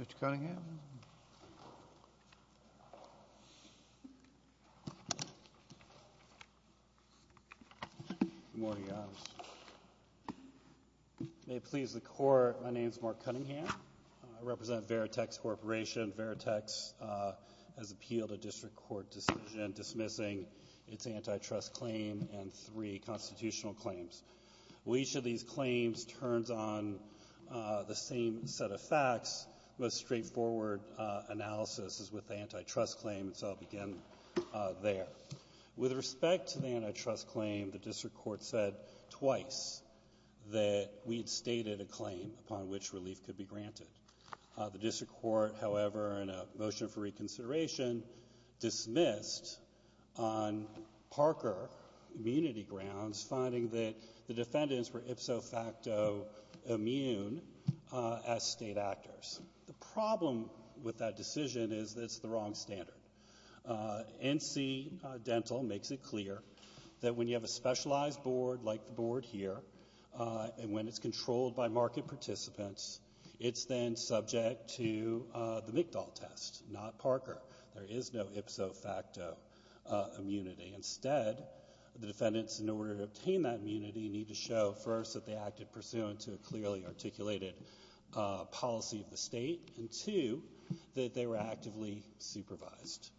Mr. Cunningham Good morning. May it please the court, my name is Mark Cunningham. I represent Veritext Corporation. Veritext has appealed a district court decision dismissing its antitrust claim and three constitutional claims. Each of these claims turns on the same set of facts, the most straightforward analysis is with the antitrust claim, so I'll begin there. With respect to the antitrust claim, the district court said twice that we had stated a claim upon which relief could be granted. The district court, however, in a motion for reconsideration dismissed on Parker immunity grounds, finding that the defendants were ipso facto immune as state actors. The problem with that decision is that it's the wrong standard. NC Dental makes it clear that when you have a specialized board like the board here, and when it's controlled by market participants, it's then subject to the McDowell test, not Parker. There is no ipso facto immunity. Instead, the defendants, in order to obtain that immunity, need to show, first, that they acted pursuant to a clearly articulated policy of the State, and, two, that they were actively supervised.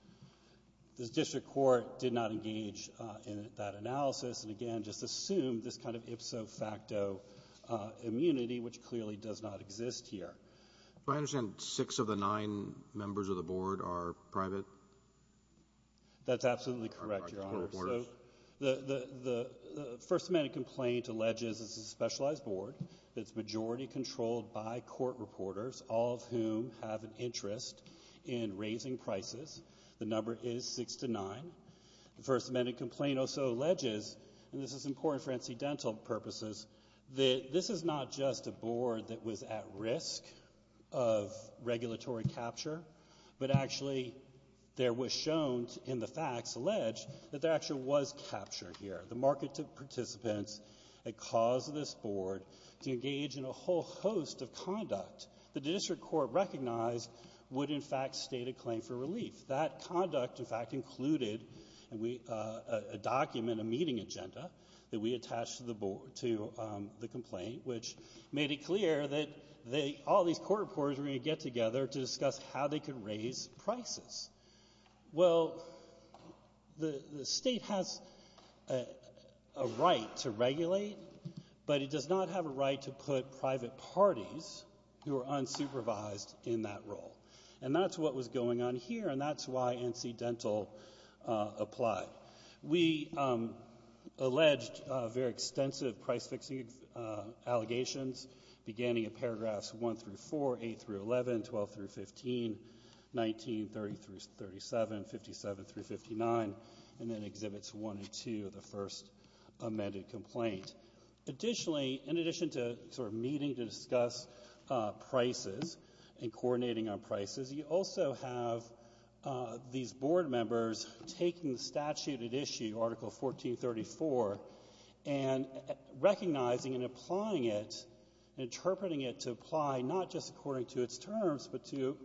The district court did not engage in that analysis and, again, just assumed this kind of ipso facto immunity, which clearly does not exist here. Do I understand six of the nine members of the board are private? That's absolutely correct, Your Honor. Are they just court reporters? The First Amendment complaint alleges it's a specialized board that's majority controlled by court reporters, all of whom have an interest in raising prices. The number is six to nine. The First Amendment complaint also alleges, and this is important for NC Dental purposes, that this is not just a board that was at risk of regulatory capture, but, actually, there was shown in the facts, alleged, that there actually was capture here. The market participants had caused this board to engage in a whole host of conduct that the district court recognized would, in fact, state a claim for relief. That conduct, in fact, included a document, a meeting agenda, that we attached to the complaint, which made it clear that all these court reporters were going to get together to discuss how they could raise prices. Well, the State has a right to regulate, but it does not have a right to put private parties who are unsupervised in that role. And that's what was going on here, and that's why NC Dental applied. We alleged very extensive price-fixing allegations, beginning at paragraphs 1-4, 8-11, 12-15, 19-37, 57-59, and then Exhibits 1 and 2 of the First Amendment complaint. Additionally, in addition to sort of meeting to discuss prices and coordinating on prices, you also have these board members taking the statute at issue, Article 1434, and recognizing and applying it, interpreting it to apply not just according to its terms, but to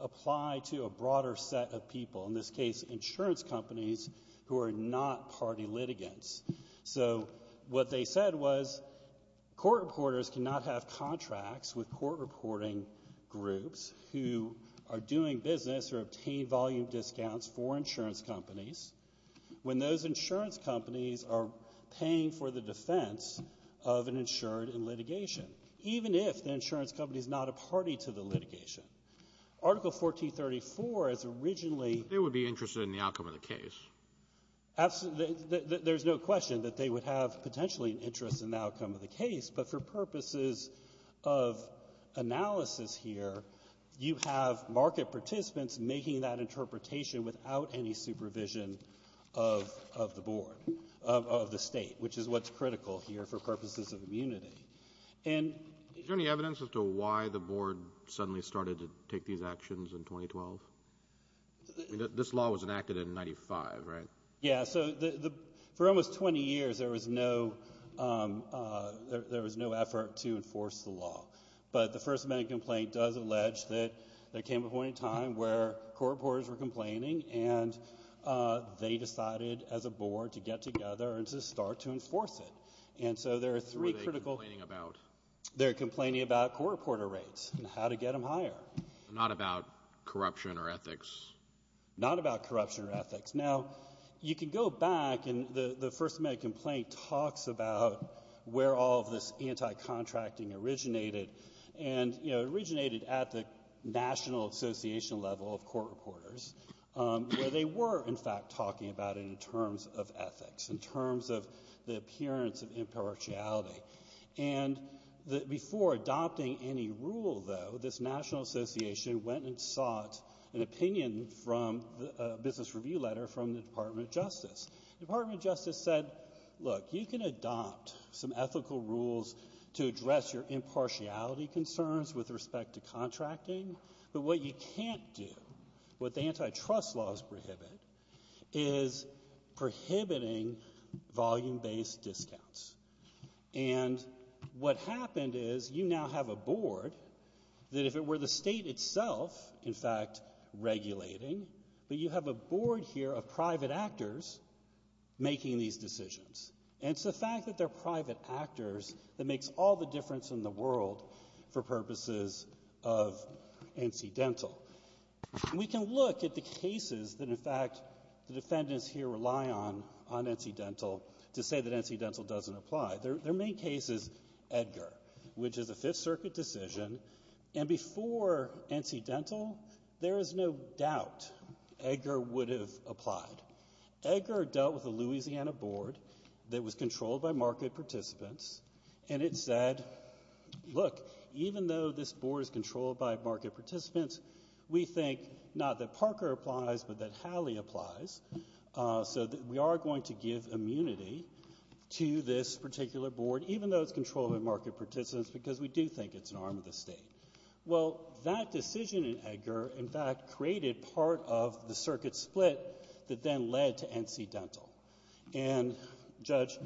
apply to a broader set of people, in this case insurance companies who are not party litigants. So what they said was court reporters cannot have contracts with court reporting groups who are doing business or obtain volume discounts for insurance companies when those insurance companies are paying for the defense of an insured in litigation, even if the insurance company is not a party to the litigation. Article 1434 is originally — But they would be interested in the outcome of the case. Absolutely. There's no question that they would have potentially an interest in the outcome of the case, but for purposes of analysis here, you have market participants making that interpretation without any supervision of the board, of the State, which is what's critical here for purposes of immunity. And — Is there any evidence as to why the board suddenly started to take these actions in 2012? I mean, this law was enacted in 95, right? Yeah. So for almost 20 years, there was no effort to enforce the law. But the First Amendment complaint does allege that there came a point in time where court reporters were complaining, and they decided as a board to get together and to start to enforce it. And so there are three critical — What are they complaining about? They're complaining about court reporter rates and how to get them higher. Not about corruption or ethics? Not about corruption or ethics. Now, you can go back, and the First Amendment complaint talks about where all of this anti-contracting originated. And, you know, it originated at the national association level of court reporters, where they were, in fact, talking about it in terms of ethics, in terms of the appearance of impartiality. And before adopting any rule, though, this national association went and sought an opinion from a business review letter from the Department of Justice. The Department of Justice said, look, you can adopt some ethical rules to address your impartiality concerns with respect to contracting, but what you can't do, what the antitrust laws prohibit, is prohibiting volume-based discounts. And what happened is you now have a board that, if it were the State itself, in fact, regulating, but you have a board here of private actors making these decisions. And it's the fact that they're private actors that makes all the difference in the world for purposes of NC Dental. And we can look at the cases that, in fact, the defendants here rely on, on NC Dental, to say that NC Dental doesn't apply. Their main case is Edgar, which is a Fifth Circuit decision. And before NC Dental, there is no doubt Edgar would have applied. Edgar dealt with a Louisiana board that was controlled by market participants, and it said, look, even though this board is controlled by market participants, we think, not that Parker applies, but that Halley applies, so that we are going to give immunity to this particular board, even though it's controlled by market participants, because we do think it's an arm of the State. Well, that decision in Edgar, in fact, created part of the circuit split that then led to NC Dental. And, Judge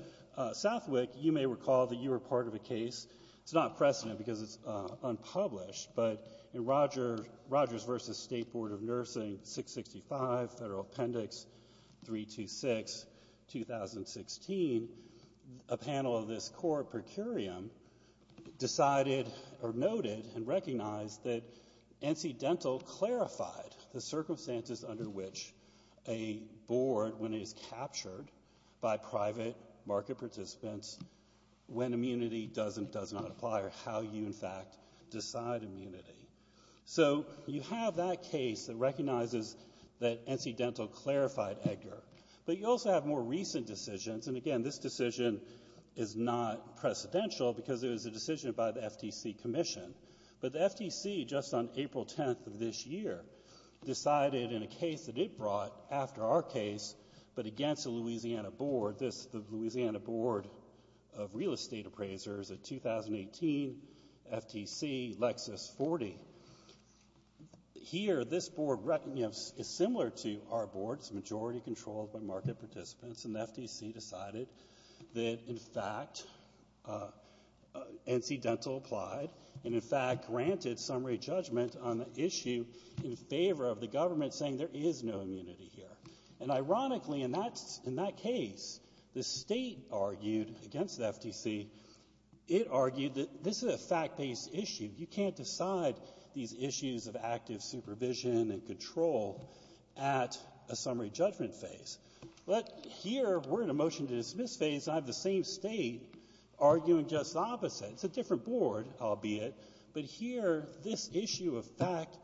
Southwick, you may recall that you were part of a case. It's not precedent because it's unpublished, but in Rogers v. State Board of Nursing, 665 Federal Appendix 326, 2016, a panel of this court, per curiam, decided, or noted and recognized, that NC Dental clarified the circumstances under which a board, when it is captured by private market participants, when immunity does and does not apply, or how you, in fact, decide immunity. So you have that case that recognizes that NC Dental clarified Edgar. But you also have more recent decisions, and again, this decision is not precedential, because it was a decision by the FTC Commission. But the FTC, just on April 10th of this year, decided in a case that it brought, after our case, but against the Louisiana Board, the Louisiana Board of Real Estate Appraisers of 2018, FTC, Lexus 40. Here, this board is similar to our board. It's majority-controlled by market participants, and the FTC decided that, in fact, NC Dental applied, and, in fact, granted summary judgment on the issue in favor of the government saying there is no immunity here. And, ironically, in that case, the State argued against the FTC. It argued that this is a fact-based issue. You can't decide these issues of active supervision and control at a summary judgment phase. But here, we're in a motion-to-dismiss phase, and I have the same State arguing just the opposite. It's a different board, albeit. But here, this issue of fact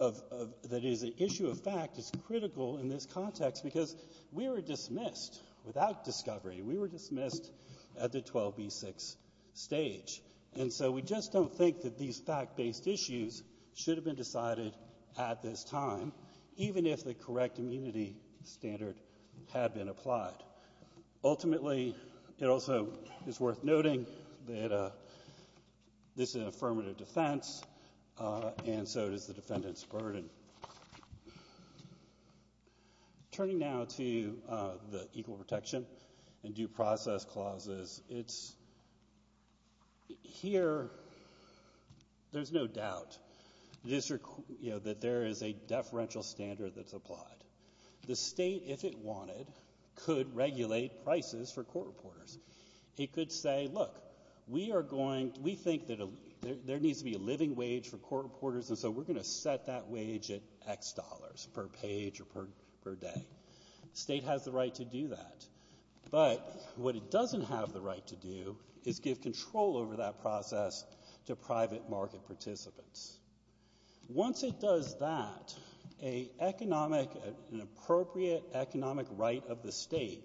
is critical in this context, because we were dismissed without discovery. We were dismissed at the 12B6 stage. And so, we just don't think that these fact-based issues should have been decided at this time, even if the correct immunity standard had been applied. Ultimately, it also is worth noting that this is an affirmative defense, and so does the defendant's burden. Turning now to the Equal Protection and Due Process clauses, here, there's no doubt that there is a deferential standard that's applied. The State, if it wanted, could regulate prices for court reporters. It could say, look, we think that there needs to be a living wage for court reporters, and so we're going to set that wage at X dollars per page or per day. The State has the right to do that. But what it doesn't have the right to do is give control over that process to private market participants. Once it does that, an appropriate economic right of the State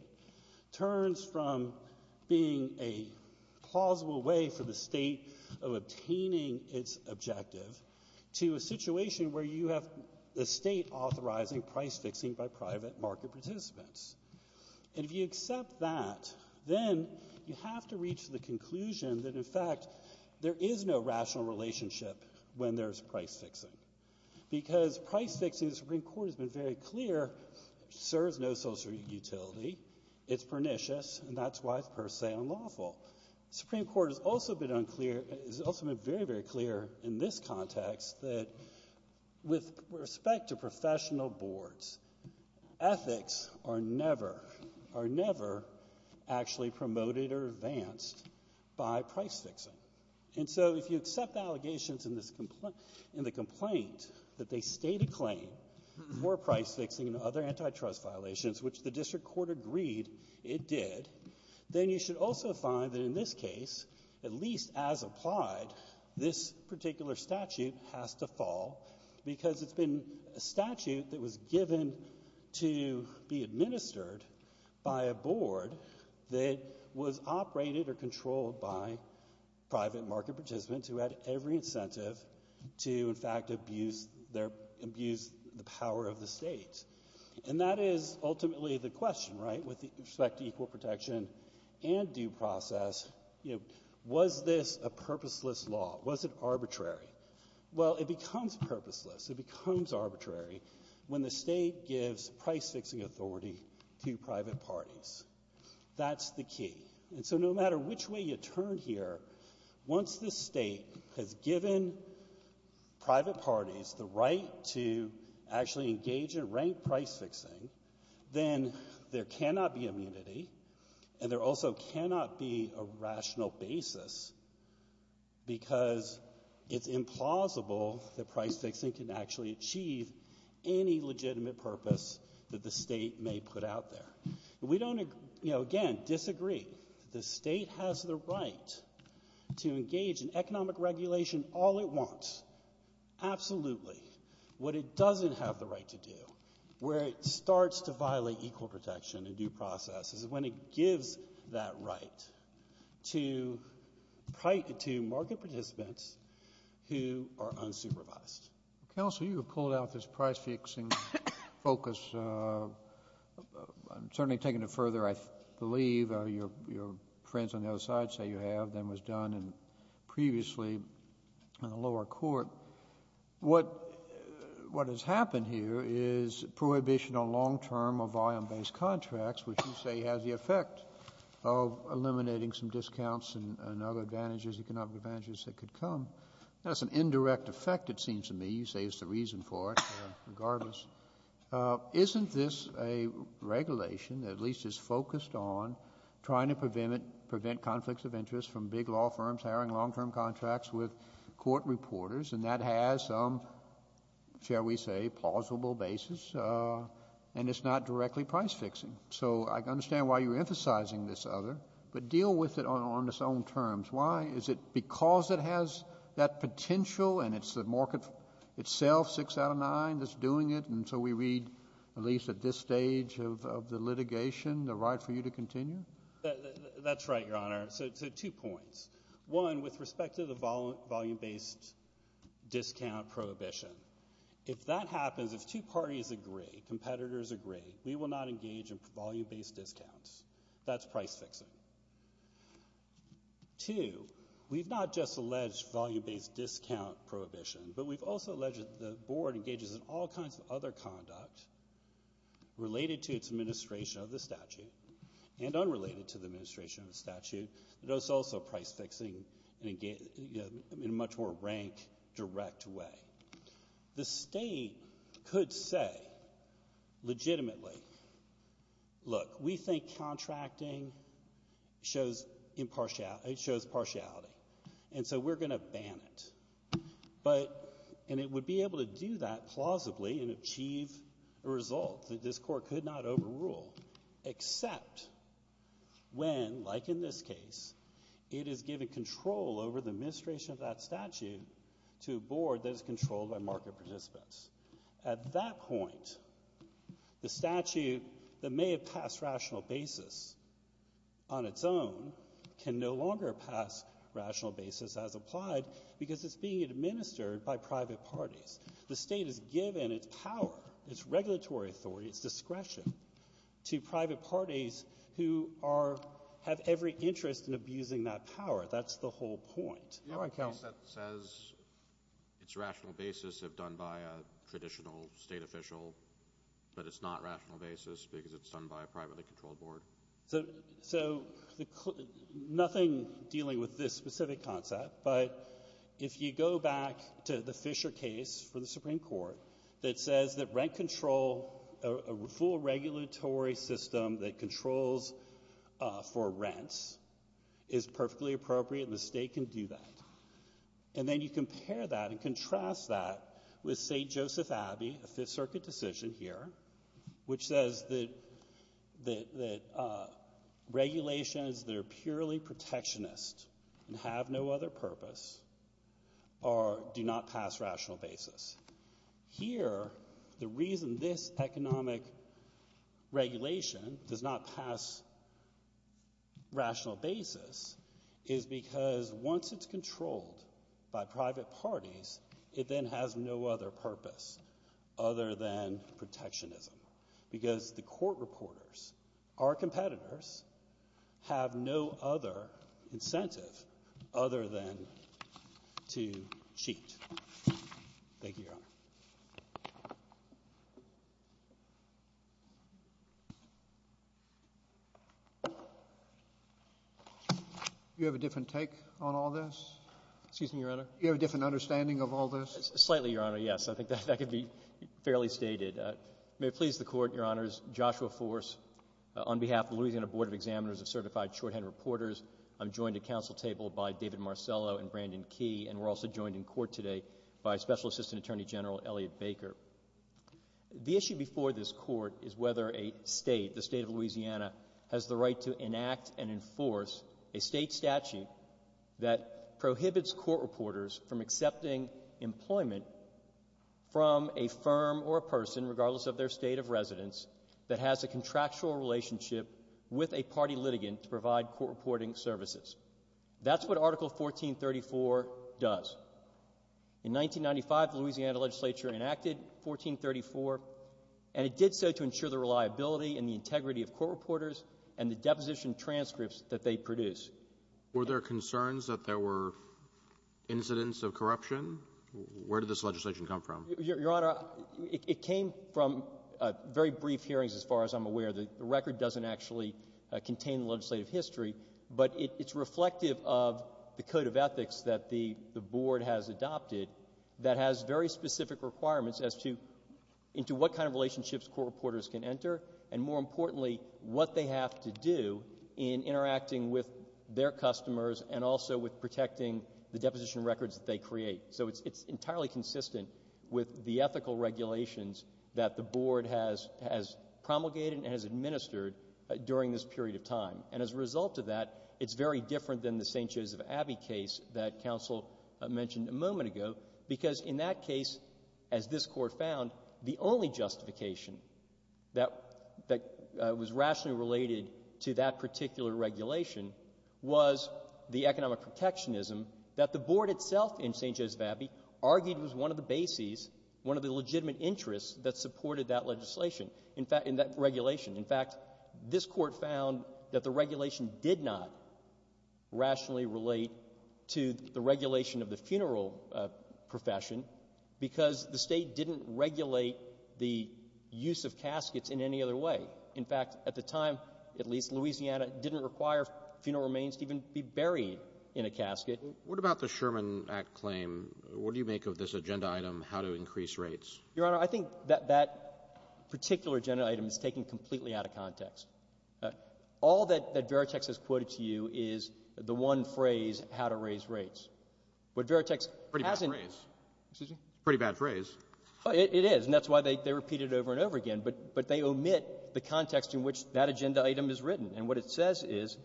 turns from being a plausible way for the State of obtaining its objective to a situation where you have the State authorizing price-fixing by private market participants. And if you accept that, then you have to reach the conclusion that, in fact, there is no rational relationship when there's price-fixing, because price-fixing, as the Supreme Court has been very clear, serves no social utility. It's pernicious, and that's why it's per se unlawful. The Supreme Court has also been unclear and has also been very, very clear in this context that, with respect to professional boards, ethics are never, are never actually promoted or advanced by price-fixing. And so if you accept the allegations in this complaint, in the complaint that they state a claim for price-fixing and other antitrust violations, which the district court agreed it did, then you should also find that in this case, at least as applied, this particular statute has to fall because it's been a statute that was given to be administered by a board that was operated or controlled by private market participants who had every incentive to, in fact, abuse their, abuse the power of the state. And that is ultimately the question, right, with respect to equal protection and due process, you know, was this a purposeless law? Was it arbitrary? Well, it becomes purposeless. It becomes arbitrary when the state gives price-fixing authority to private parties. That's the key. And so no matter which way you turn here, once the state has given private parties the right to actually engage in rank price-fixing, then there cannot be immunity, and there also cannot be a rational basis because it's implausible that price-fixing can actually achieve any legitimate purpose that the state may put out there. We don't, you know, again, disagree. The state has the right to engage in economic regulation all it wants, absolutely. What it doesn't have the right to do, where it starts to violate equal protection and due process, is when it gives that right to private to market participants who are unsupervised. Kennedy. Counsel, you have pulled out this price-fixing focus. I'm certainly taking it further. I believe your friends on the other side say you have. That was done previously in the lower court. What has happened here is prohibition on long-term or volume-based contracts, which you say has the effect of eliminating some discounts and other advantages, economic advantages that could come. That's an indirect effect, it seems to me. You say it's the reason for it regardless. Isn't this a regulation that at least is focused on trying to prevent conflicts of interest from big law firms hiring long-term contracts with court reporters, and that has some, shall we say, plausible basis, and it's not directly price-fixing? So I understand why you're emphasizing this other, but deal with it on its own terms. Why? Is it because it has that potential and it's the market itself, six out of nine, that's doing it, and so we read, at least at this stage of the litigation, the right for you to continue? That's right, Your Honor. So two points. One, with respect to the volume-based discount prohibition, if that happens, if two parties agree, competitors agree, we will not engage in volume-based discounts. That's price-fixing. Two, we've not just alleged volume-based discount prohibition, but we've also alleged that the Board engages in all kinds of other conduct related to its administration of the statute and unrelated to the administration of the statute that is also price-fixing in a much more rank, direct way. The State could say legitimately, look, we think contracting shows impartiality, it shows partiality, and so we're going to ban it. But, and it would be able to do that plausibly and achieve a result that this Court could not overrule, except when, like in this case, the State is given its power, its regulatory authority, its discretion, to private parties who are, have every interest in abusing that power. That's the whole point. All right, count. It's rational basis if done by a traditional State official, but it's not rational basis because it's done by a privately controlled Board. So nothing dealing with this specific concept, but if you go back to the Fisher case for the Supreme Court that says that rent control, a full regulatory system that controls for rents, is perfectly appropriate, the State can do that. And then you compare that and contrast that with St. Joseph Abbey, a Fifth Circuit decision here, which says that regulations that are purely protectionist and have no other purpose do not pass rational basis. Here, the reason this economic regulation does not pass rational basis is because once it's controlled by private parties, it then has no other purpose other than protectionism, because the Court reporters, our competitors, have no other incentive other than to cheat. Thank you, Your Honor. Do you have a different take on all this? Excuse me, Your Honor. Do you have a different understanding of all this? Slightly, Your Honor, yes. I think that could be fairly stated. May it please the Court, Your Honors, Joshua Force, on behalf of Louisiana Board of Examiners of Certified Shorthand Reporters, I'm joined at council table by David Marcello and Brandon Key, and we're also joined in court today by Special Assistant Attorney General Elliot Baker. The issue before this Court is whether a State, the State of Louisiana, has the right to enact and enforce a State statute that prohibits court reporters from accepting employment from a firm or a person, regardless of their State of residence, that has a contractual relationship with a party litigant to provide court reporting services. That's what Article 1434 does. In 1995, the Louisiana legislature enacted 1434, and it did so to ensure the reliability and the integrity of court reporters and the deposition transcripts that they produce. Were there concerns that there were incidents of corruption? Where did this legislation come from? Your Honor, it came from very brief hearings, as far as I'm aware. The record doesn't actually contain the legislative history, but it's reflective of the code of ethics that the Board has adopted that has very specific requirements as to into what kind of relationships court reporters can enter, and more importantly, what they have to do in interacting with their customers and also with protecting the deposition records that they create. So it's entirely consistent with the ethical regulations that the Board has promulgated and has administered during this period of time. And as a result of that, it's very different than the St. Joseph Abbey case that counsel mentioned a moment ago, because in that case, as this Court found, the only justification that was rationally related to that particular regulation was the economic protectionism that the Board itself in St. Joseph supported that legislation, in fact, in that regulation. In fact, this Court found that the regulation did not rationally relate to the regulation of the funeral profession, because the State didn't regulate the use of caskets in any other way. In fact, at the time, at least, Louisiana didn't require funeral remains to even be buried in a casket. What about the Sherman Act claim? What do you make of this agenda item, how to increase rates? Your Honor, I think that that particular agenda item is taken completely out of context. All that Veritex has quoted to you is the one phrase, how to raise rates. But Veritex hasn't — Pretty bad phrase. Excuse me? Pretty bad phrase. It is. And that's why they repeat it over and over again. But they omit the context in which that agenda item is written. And what it says is,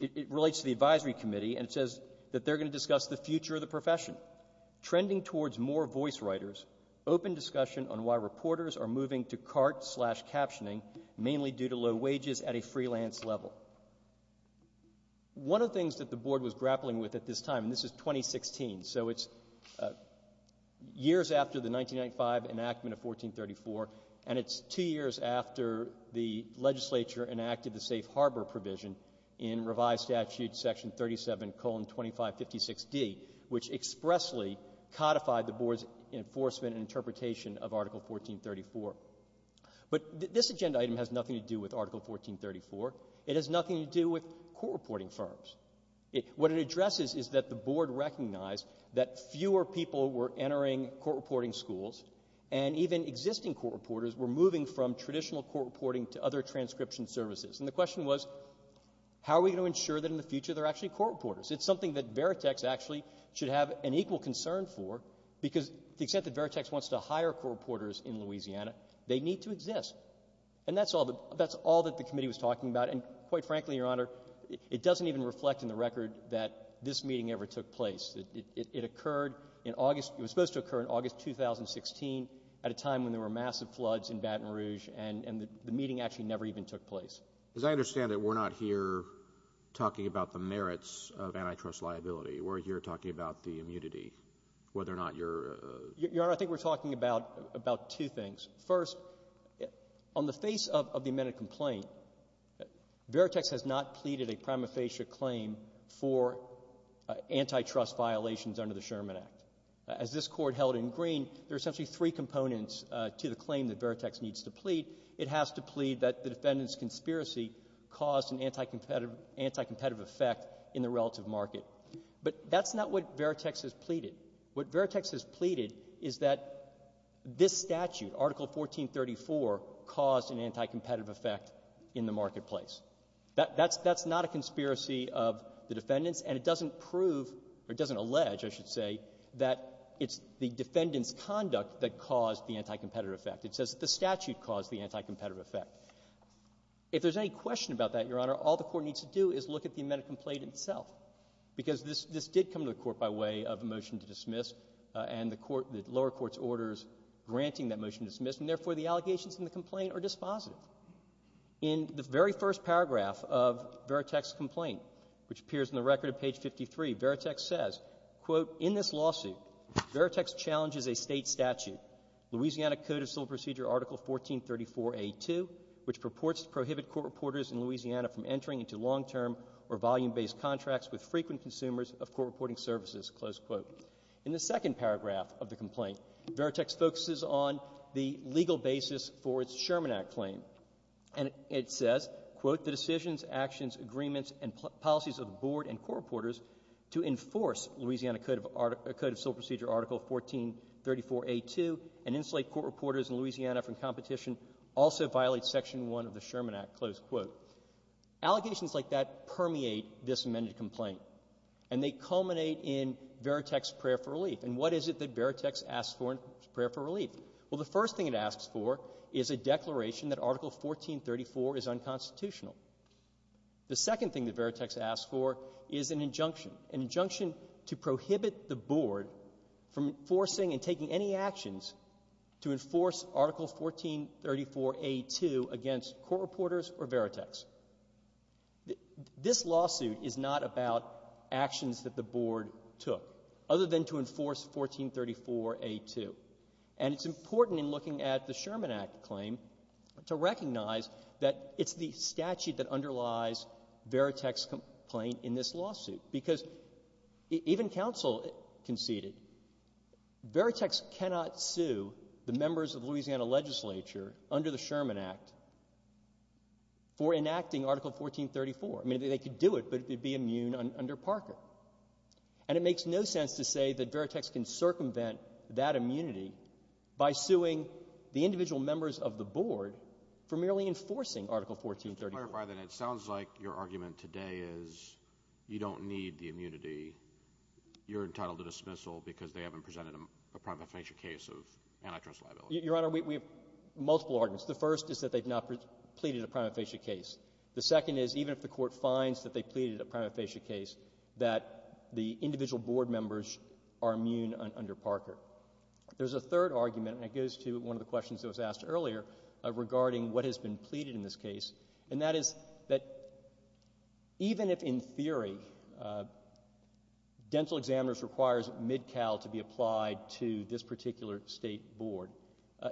it relates to the advisory committee, and it says that they're going to discuss the future of the profession. Trending towards more voice writers, open discussion on why reporters are moving to CART-slash-captioning, mainly due to low wages at a freelance level. One of the things that the Board was grappling with at this time, and this is 2016, so it's years after the 1995 enactment of 1434, and it's two years after the legislature enacted the safe harbor provision in Revised Statute Section 37,2556D, which expressly codified the Board's enforcement and interpretation of Article 1434. But this agenda item has nothing to do with Article 1434. It has nothing to do with court reporting firms. What it addresses is that the Board recognized that fewer people were entering court reporting schools, and even existing court reporters were moving from traditional court reporting to other transcription services. And the question was, how are we going to ensure that in the future there are actually court reporters? It's something that Veritex actually should have an equal concern for, because the extent that Veritex wants to hire court reporters in Louisiana, they need to exist. And that's all that the committee was talking about. And quite frankly, Your Honor, it doesn't even reflect in the record that this meeting ever took place. It occurred in August. It was supposed to occur in August 2016 at a time when there were massive floods in Baton Rouge, and the meeting actually never even took place. As I understand it, we're not here talking about the merits of antitrust liability. We're here talking about the immunity, whether or not your — Your Honor, I think we're talking about two things. First, on the face of the amended complaint, Veritex has not pleaded a prima facie claim for antitrust violations under the Sherman Act. As this Court held in Green, there are essentially three components to the claim that Veritex needs to plead. It has to plead that the defendant's conspiracy caused an anti-competitive effect in the relative market. But that's not what Veritex has pleaded. What Veritex has pleaded is that this statute, Article 1434, caused an anti-competitive effect in the marketplace. That's not a conspiracy of the defendant's, and it doesn't prove, or it doesn't allege, I should say, that it's the defendant's conduct that caused the anti-competitive effect. It says that the statute caused the anti-competitive effect. If there's any question about that, Your Honor, all the Court needs to do is look at the amended complaint itself, because this did come to the Court by way of a motion to dismiss, and the lower court's orders granting that motion to dismiss, and, therefore, the allegations in the complaint are dispositive. In the very first paragraph of Veritex's complaint, which appears in the record at page 53, Veritex says, quote, in this lawsuit, Veritex challenges a State statute, Louisiana Code of Civil Procedure, Article 1434a2, which purports to prohibit court reporters in Louisiana from entering into long-term or volume-based contracts with frequent consumers of court reporting services, close quote. In the second paragraph of the complaint, Veritex focuses on the legal basis for its Sherman Act claim, and it says, quote, the decisions, actions, agreements, and policies of the Board and court reporters to enforce Louisiana Code of Article of Civil Procedure, Article 1434a2, and insulate court reporters in Louisiana from competition also violate Section 1 of the Sherman Act, close quote. Allegations like that permeate this amended complaint, and they culminate in Veritex's prayer for relief. And what is it that Veritex asks for in its prayer for relief? Well, the first thing it asks for is a declaration that Article 1434 is unconstitutional. The second thing that Veritex asks for is an injunction, an injunction to prohibit the Board from enforcing and taking any actions to enforce Article 1434a2 against court reporters or Veritex. This lawsuit is not about actions that the Board took, other than to enforce 1434a2. And it's important in looking at the Sherman Act claim to recognize that it's the statute that underlies Veritex's complaint in this lawsuit, because even counsel conceded Veritex cannot sue the members of Louisiana legislature under the Sherman Act for enacting Article 1434. I mean, they could do it, but it would be immune under Parker. And it makes no sense to say that Veritex can circumvent that immunity by suing the individual members of the Board for merely enforcing Article 1434. Just to clarify that, it sounds like your argument today is you don't need the immunity. You're entitled to dismissal because they haven't presented a prima facie case of antitrust liability. Your Honor, we have multiple arguments. The first is that they've not pleaded a prima facie case. The second is, even if the Court finds that they pleaded a prima facie case, that the individual Board members are immune under Parker. There's a third argument, and it goes to one of the questions that was asked earlier regarding what has been pleaded in this case, and that is that even if, in theory, dental examiners requires MidCal to be applied to this particular State Board,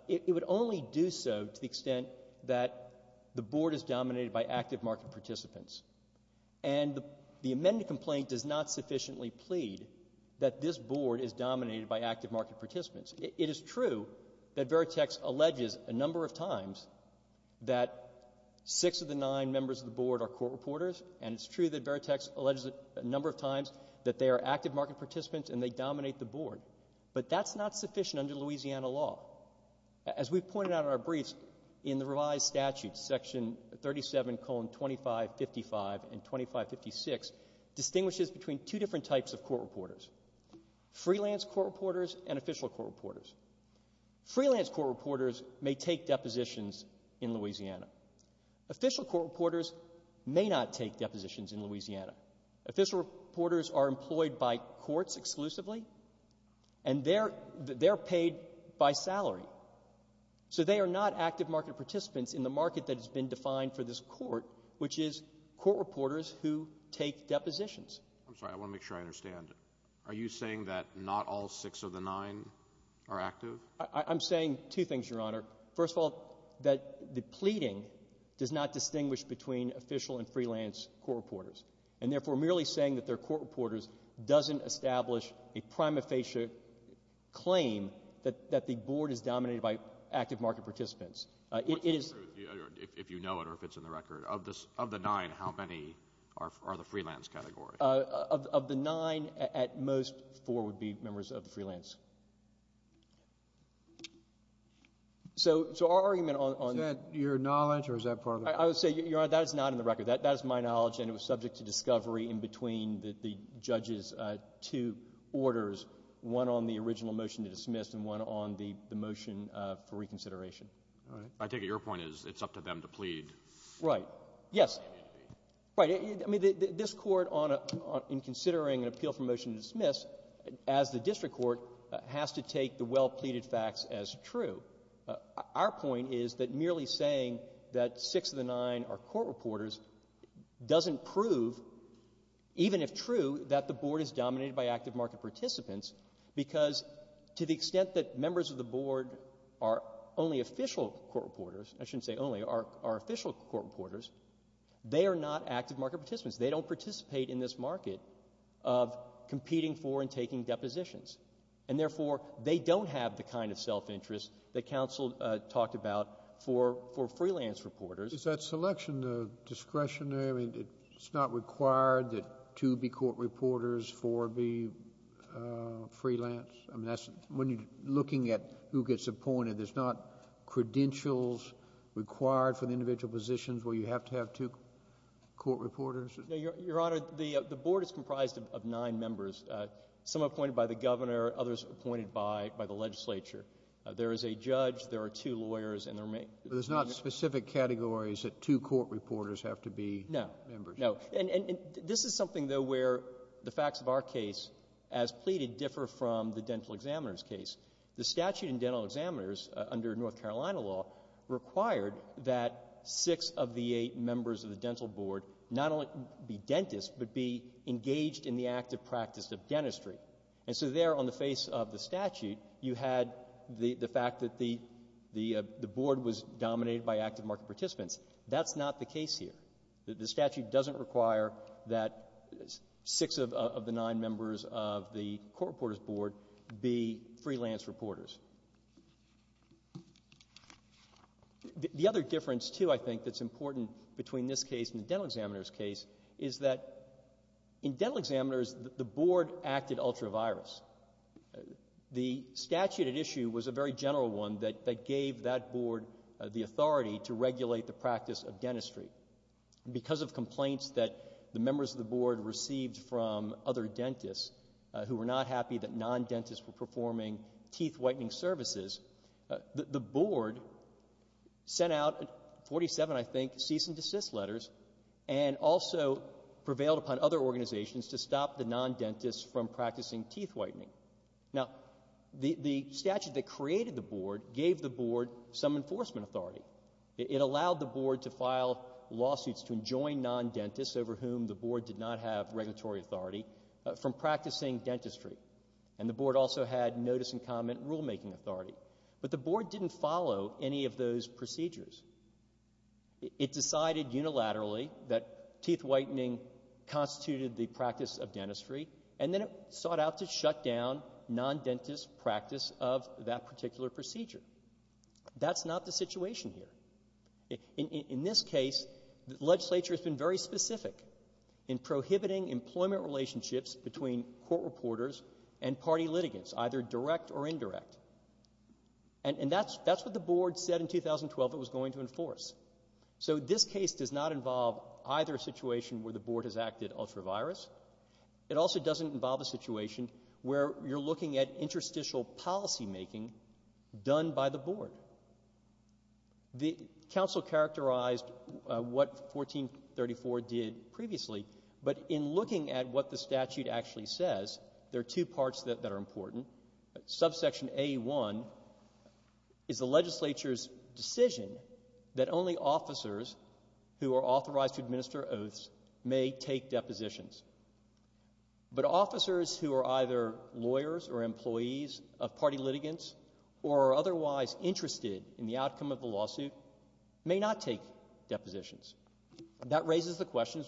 it would only do so to the extent that the Board is dominated by active market participants. And the amended complaint does not sufficiently plead that this Board is dominated by active market participants. It is true that Veritex alleges a number of times that six of the nine members of the Board are court reporters, and it's true that Veritex alleges a number of times that they are active market participants and they dominate the Board. But that's not sufficient under Louisiana law. As we've pointed out in our briefs, in the revised statute, Section 37, 2555 and 2556 distinguishes between two different types of court reporters, freelance court reporters and official court reporters. Freelance court reporters may take depositions in Louisiana. Official court reporters may not take depositions in Louisiana. Official reporters are employed by courts exclusively, and they're paid by their salary. So they are not active market participants in the market that has been defined for this Court, which is court reporters who take depositions. I'm sorry. I want to make sure I understand. Are you saying that not all six of the nine are active? I'm saying two things, Your Honor. First of all, that the pleading does not distinguish between official and freelance court reporters, and therefore merely saying that they're court reporters doesn't establish a prima facie claim that the Board is dominated by active market participants. It is — If you know it or if it's in the record, of the nine, how many are the freelance category? Of the nine, at most, four would be members of the freelance. So our argument on — Is that your knowledge, or is that part of the record? I would say, Your Honor, that is not in the record. That is my knowledge, and it was subject to discovery in between the judges' two orders, one on the original motion to dismiss and one on the motion for reconsideration. All right. I take it your point is it's up to them to plead. Right. Yes. Right. I mean, this Court, in considering an appeal for motion to dismiss, as the district court, has to take the well-pleaded facts as true. Our point is that merely saying that six of the nine are court reporters doesn't prove, even if true, that the Board is dominated by active market participants because, to the extent that members of the Board are only official court reporters — I shouldn't say only — are official court reporters, they are not active market participants. They don't participate in this market of competing for and taking depositions. And therefore, they don't have the kind of self-interest that counsel talked about for — for freelance reporters. Is that selection discretionary? I mean, it's not required that two be court reporters, four be freelance? I mean, that's — when you're looking at who gets appointed, there's not credentials required for the individual positions where you have to have two court reporters? No, Your Honor, the Board is comprised of nine members, some appointed by the Governor, others appointed by — by the legislature. There is a judge, there are two lawyers, and there are — But there's not specific categories that two court reporters have to be members? No. No. And — and this is something, though, where the facts of our case, as pleaded, differ from the dental examiner's case. The statute in dental examiners, under North Carolina law, required that six of the eight members of the dental Board not only be dentists but be engaged in the active practice of dentistry. And so there, on the face of the statute, you had the — the fact that the — the Board was dominated by active market participants. That's not the case here. The statute doesn't require that six of the nine members of the court reporter's Board be freelance reporters. The other difference, too, I think, that's important between this case and the dental examiner's case is that in dental examiners, the Board acted ultra-virus. The statute at issue was a very general one that — that gave that Board the authority to regulate the practice of dentistry. Because of complaints that the members of the Board received from other dentists who were not happy that non-dentists were performing teeth-whitening services, the — the Board sent out 47, I think, cease-and-desist letters and also prevailed upon other organizations to stop the non-dentists from practicing teeth-whitening. Now, the — the statute that created the Board gave the Board some enforcement authority. It allowed the Board to file lawsuits to enjoin non-dentists over whom the Board did not have regulatory authority from practicing dentistry. And the Board also had notice and comment rulemaking authority. But the Board didn't follow any of those procedures. It decided unilaterally that to shut down non-dentist practice of that particular procedure. That's not the situation here. In this case, the Legislature has been very specific in prohibiting employment relationships between court reporters and party litigants, either direct or indirect. And that's — that's what the Board said in 2012 it was going to enforce. So this case does not involve either a situation where the Board has acted ultra-virus. It also doesn't involve a situation where you're looking at interstitial policymaking done by the Board. The Council characterized what 1434 did previously, but in looking at what the statute actually says, there are two parts that are important. Subsection A1 is the Legislature's decision that only officers who are authorized to But officers who are either lawyers or employees of party litigants or are otherwise interested in the outcome of the lawsuit may not take depositions. That raises the question,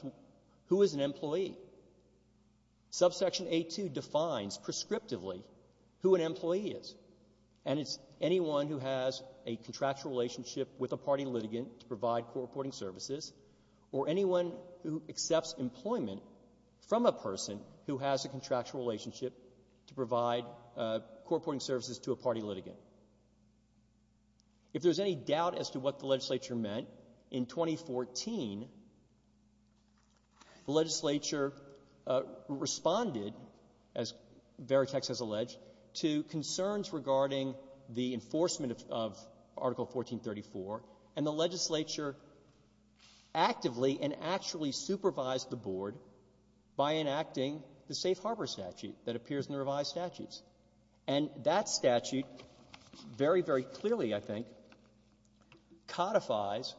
who is an employee? Subsection A2 defines prescriptively who an employee is, and it's anyone who has a contractual relationship with a party litigant to provide court reporting services, or anyone who accepts employment from a person who has a contractual relationship to provide court reporting services to a party litigant. If there's any doubt as to what the Legislature meant, in 2014, the Legislature responded, as Veritex has alleged, to concerns regarding the enforcement of Article 1434, and the Legislature actively and actually supervised the Board by enacting the safe harbor statute that appears in the revised statutes. And that statute, very, very clearly, I think, codifies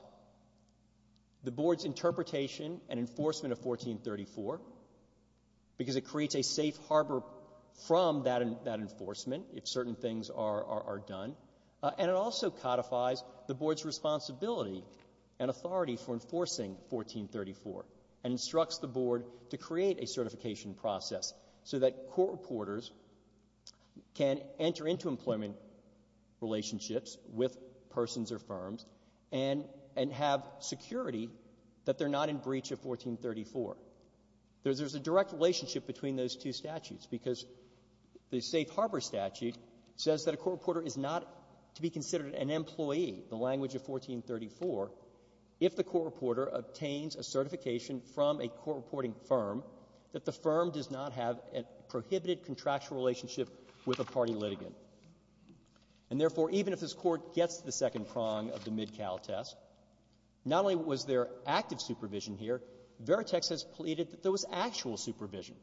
the Board's interpretation and enforcement of 1434 because it creates a safe harbor from that enforcement if certain things are done, and it also codifies the Board's responsibility and authority for enforcing 1434 and instructs the Board to create a certification process so that court reporters can enter into employment relationships with persons or firms and have security that they're not in breach of 1434. There's a direct relationship between those two statutes because the safe harbor statute says that a court reporter is not to be considered an employee, the language of 1434, if the court reporter obtains a certification from a court reporting firm that the firm does not have a prohibited contractual relationship with a party litigant. And therefore, even if this Court gets to the second prong of the MidCal test, not only was there active supervision here, Veritex has pleaded that there was actual supervision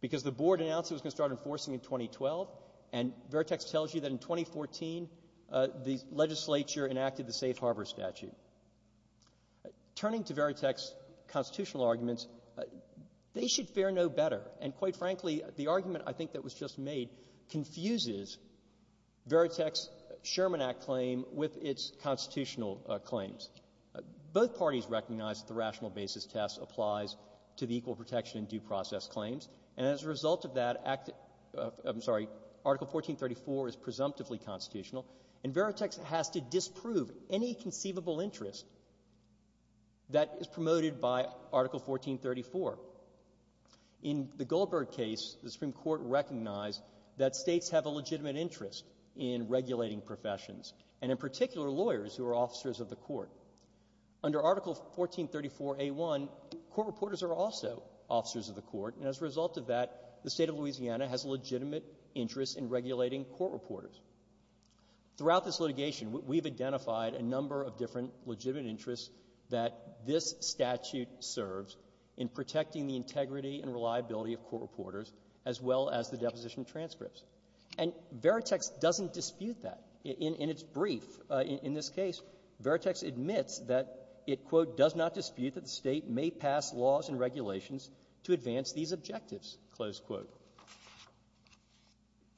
because the Board announced it was going to start enforcing in 2012, and Veritex tells you that in 2014, the legislature enacted the safe harbor statute. Turning to Veritex's constitutional arguments, they should fare no better, and quite frankly, the argument I think that was just made confuses Veritex's constitutional claims. Both parties recognize that the rational basis test applies to the equal protection and due process claims, and as a result of that act of the 1434 is presumptively constitutional, and Veritex has to disprove any conceivable interest that is promoted by Article 1434. In the Goldberg case, the Supreme Court recognized that States have a legitimate interest in regulating professions, and in particular, lawyers who are officers of the Court. Under Article 1434a1, court reporters are also officers of the Court, and as a result of that, the State of Louisiana has a legitimate interest in regulating court reporters. Throughout this litigation, we've identified a number of different legitimate interests that this statute serves in protecting the integrity and reliability of court reporters as well as the deposition transcripts. And Veritex doesn't dispute that. In its brief in this case, Veritex admits that it, quote, does not dispute that the State may pass laws and regulations to advance these objectives, close quote.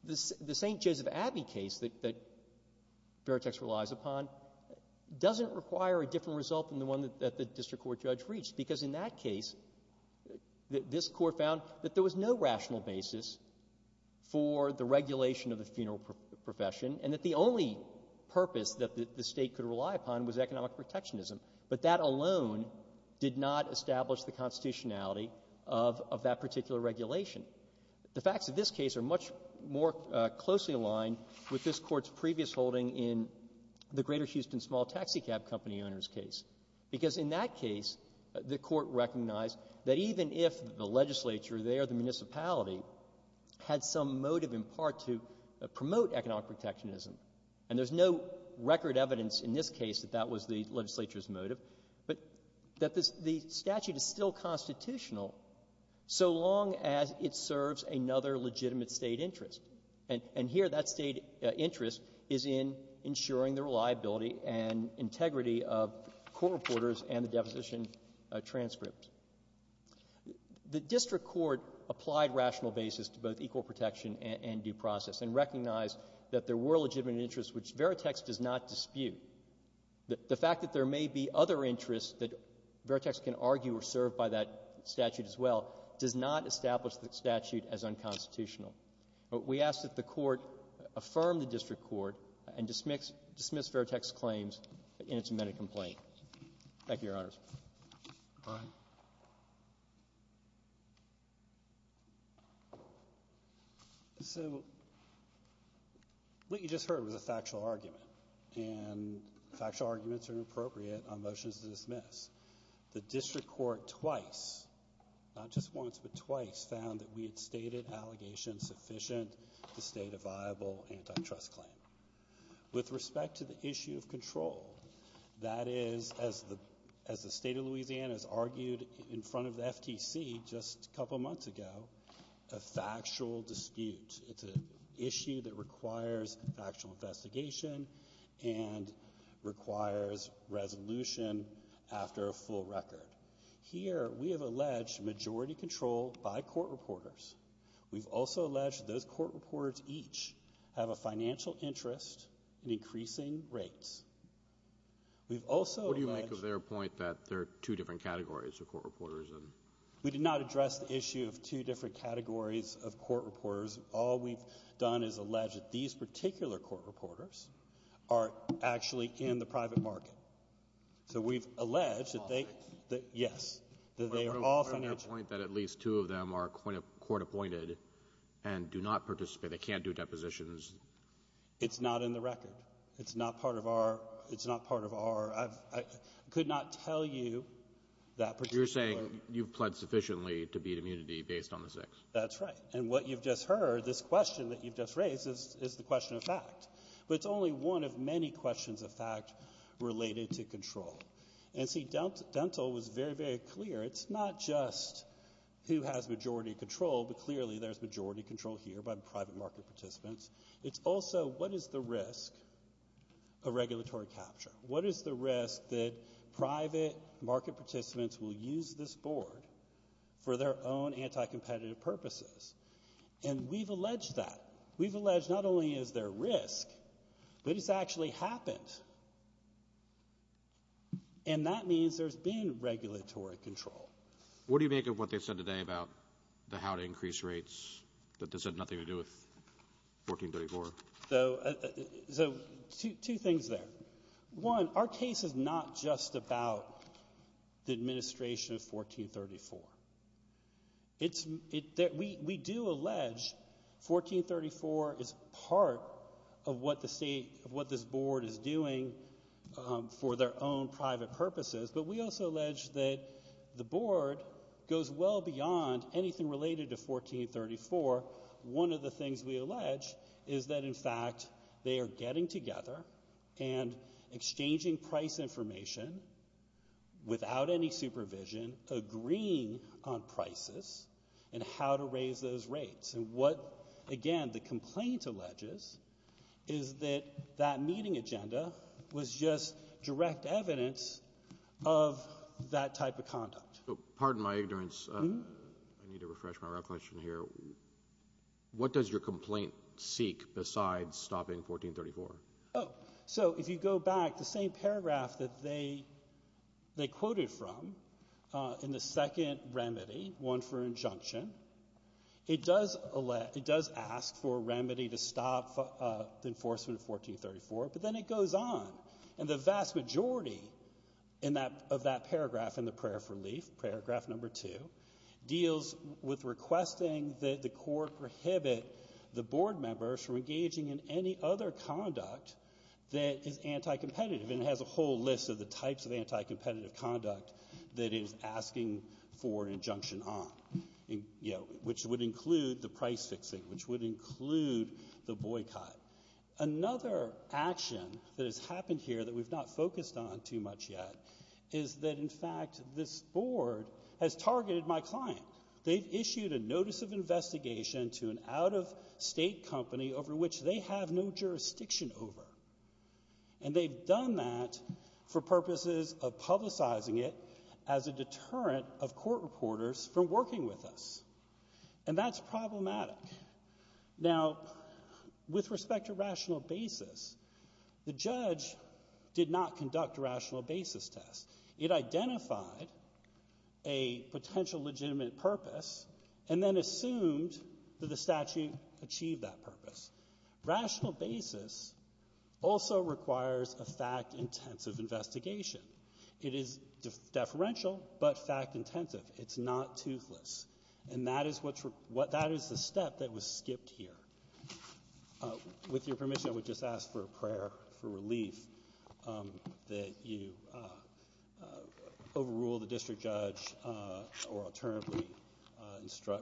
The St. Joseph Abbey case that Veritex relies upon doesn't require a different result than the one that the district court judge reached, because in that case, this Court found that there was no rational basis for the regulation of the funeral profession and that the only purpose that the State could rely upon was economic protectionism. But that alone did not establish the constitutionality of that particular regulation. The facts of this case are much more closely aligned with this Court's previous holding in the Greater Houston Small Taxicab Company owner's case, because in that case, the Court recognized that even if the legislature there, the municipality, had some motive in part to promote economic protectionism, and there's no record evidence in this case that that was the legislature's motive, but that the statute is still constitutional so long as it serves another legitimate State interest. And here that State interest is in ensuring the reliability and integrity of court reporters and the deposition transcripts. The district court applied rational basis to both equal protection and due process and recognized that there were legitimate interests which Veritex does not dispute. The fact that there may be other interests that Veritex can argue are served by that statute as well does not establish the statute as unconstitutional. We ask that the Court affirm the district court and dismiss Veritex's claims in its amended complaint. Thank you, Your Honors. Roberts. So what you just heard was a factual argument. And factual arguments are inappropriate on motions to dismiss. The district court twice, not just once but twice, found that we had stated allegations sufficient to state a viable antitrust claim. With respect to the issue of control, that is, as the State of Louisiana has argued in front of the FTC just a couple months ago, a requires resolution after a full record. Here we have alleged majority control by court reporters. We've also alleged that those court reporters each have a financial interest in increasing rates. We've also alleged that there are two different categories of court reporters. We did not address the issue of two different are actually in the private market. So we've alleged that they — All financial? Yes. That they are all financial. But on your point that at least two of them are court-appointed and do not participate, they can't do depositions. It's not in the record. It's not part of our — it's not part of our — I could not tell you that particular — You're saying you've pled sufficiently to beat immunity based on the six. That's right. And what you've just heard, this question that you've just raised, is the question of fact. But it's only one of many questions of fact related to control. And see, Dental was very, very clear. It's not just who has majority control, but clearly there's majority control here by private market participants. It's also what is the risk of regulatory capture? What is the risk that private market participants will use this board for their own anti-competitive purposes? And we've alleged that. We've alleged not only is there risk, but it's actually happened. And that means there's been regulatory control. What do you make of what they've said today about the how to increase rates, that this had nothing to do with 1434? So two things there. One, our case is not just about the administration of 1434. We do allege 1434 is part of what this board is doing for their own private purposes. But we also allege that the board goes well beyond anything related to 1434. One of the things we allege is that, in fact, they are getting together and exchanging price information without any supervision, agreeing on prices and how to raise those rates. And what, again, the complaint alleges is that that meeting agenda was just direct evidence of that type of conduct. Pardon my ignorance. I need to refresh my recollection here. What does your complaint seek besides stopping 1434? Oh. So if you go back, the same paragraph that they quoted from in the second remedy, one for injunction, it does ask for a remedy to stop the enforcement of 1434, but then it goes on. And the vast majority of that paragraph in the prayer for relief, paragraph No. 2, deals with requesting that the court prohibit the board members from engaging in any other conduct that is anti-competitive. And it has a whole list of the types of anti-competitive conduct that it is asking for injunction on, which would include the price fixing, which would include the boycott. Another action that has happened here that we've not focused on too much yet is that, in fact, this board has targeted my client. They've issued a notice of investigation to an out-of-state company over which they have no jurisdiction over. And they've done that for purposes of publicizing it as a deterrent of court reporters from working with us. And that's problematic. Now, with respect to rational basis, the judge did not conduct a rational basis test. It identified a potential legitimate purpose and then assumed that the statute achieved that purpose. Rational basis also requires a fact-intensive investigation. It is deferential, but fact-intensive. It's not toothless. And that is what's the step that was skipped here. With your permission, I would just ask for a prayer for relief that you overrule the district judge or alternatively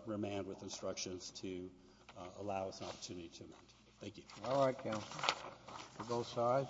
remand with instructions to allow us an opportunity to amend. Thank you. All right, counsel. To both sides.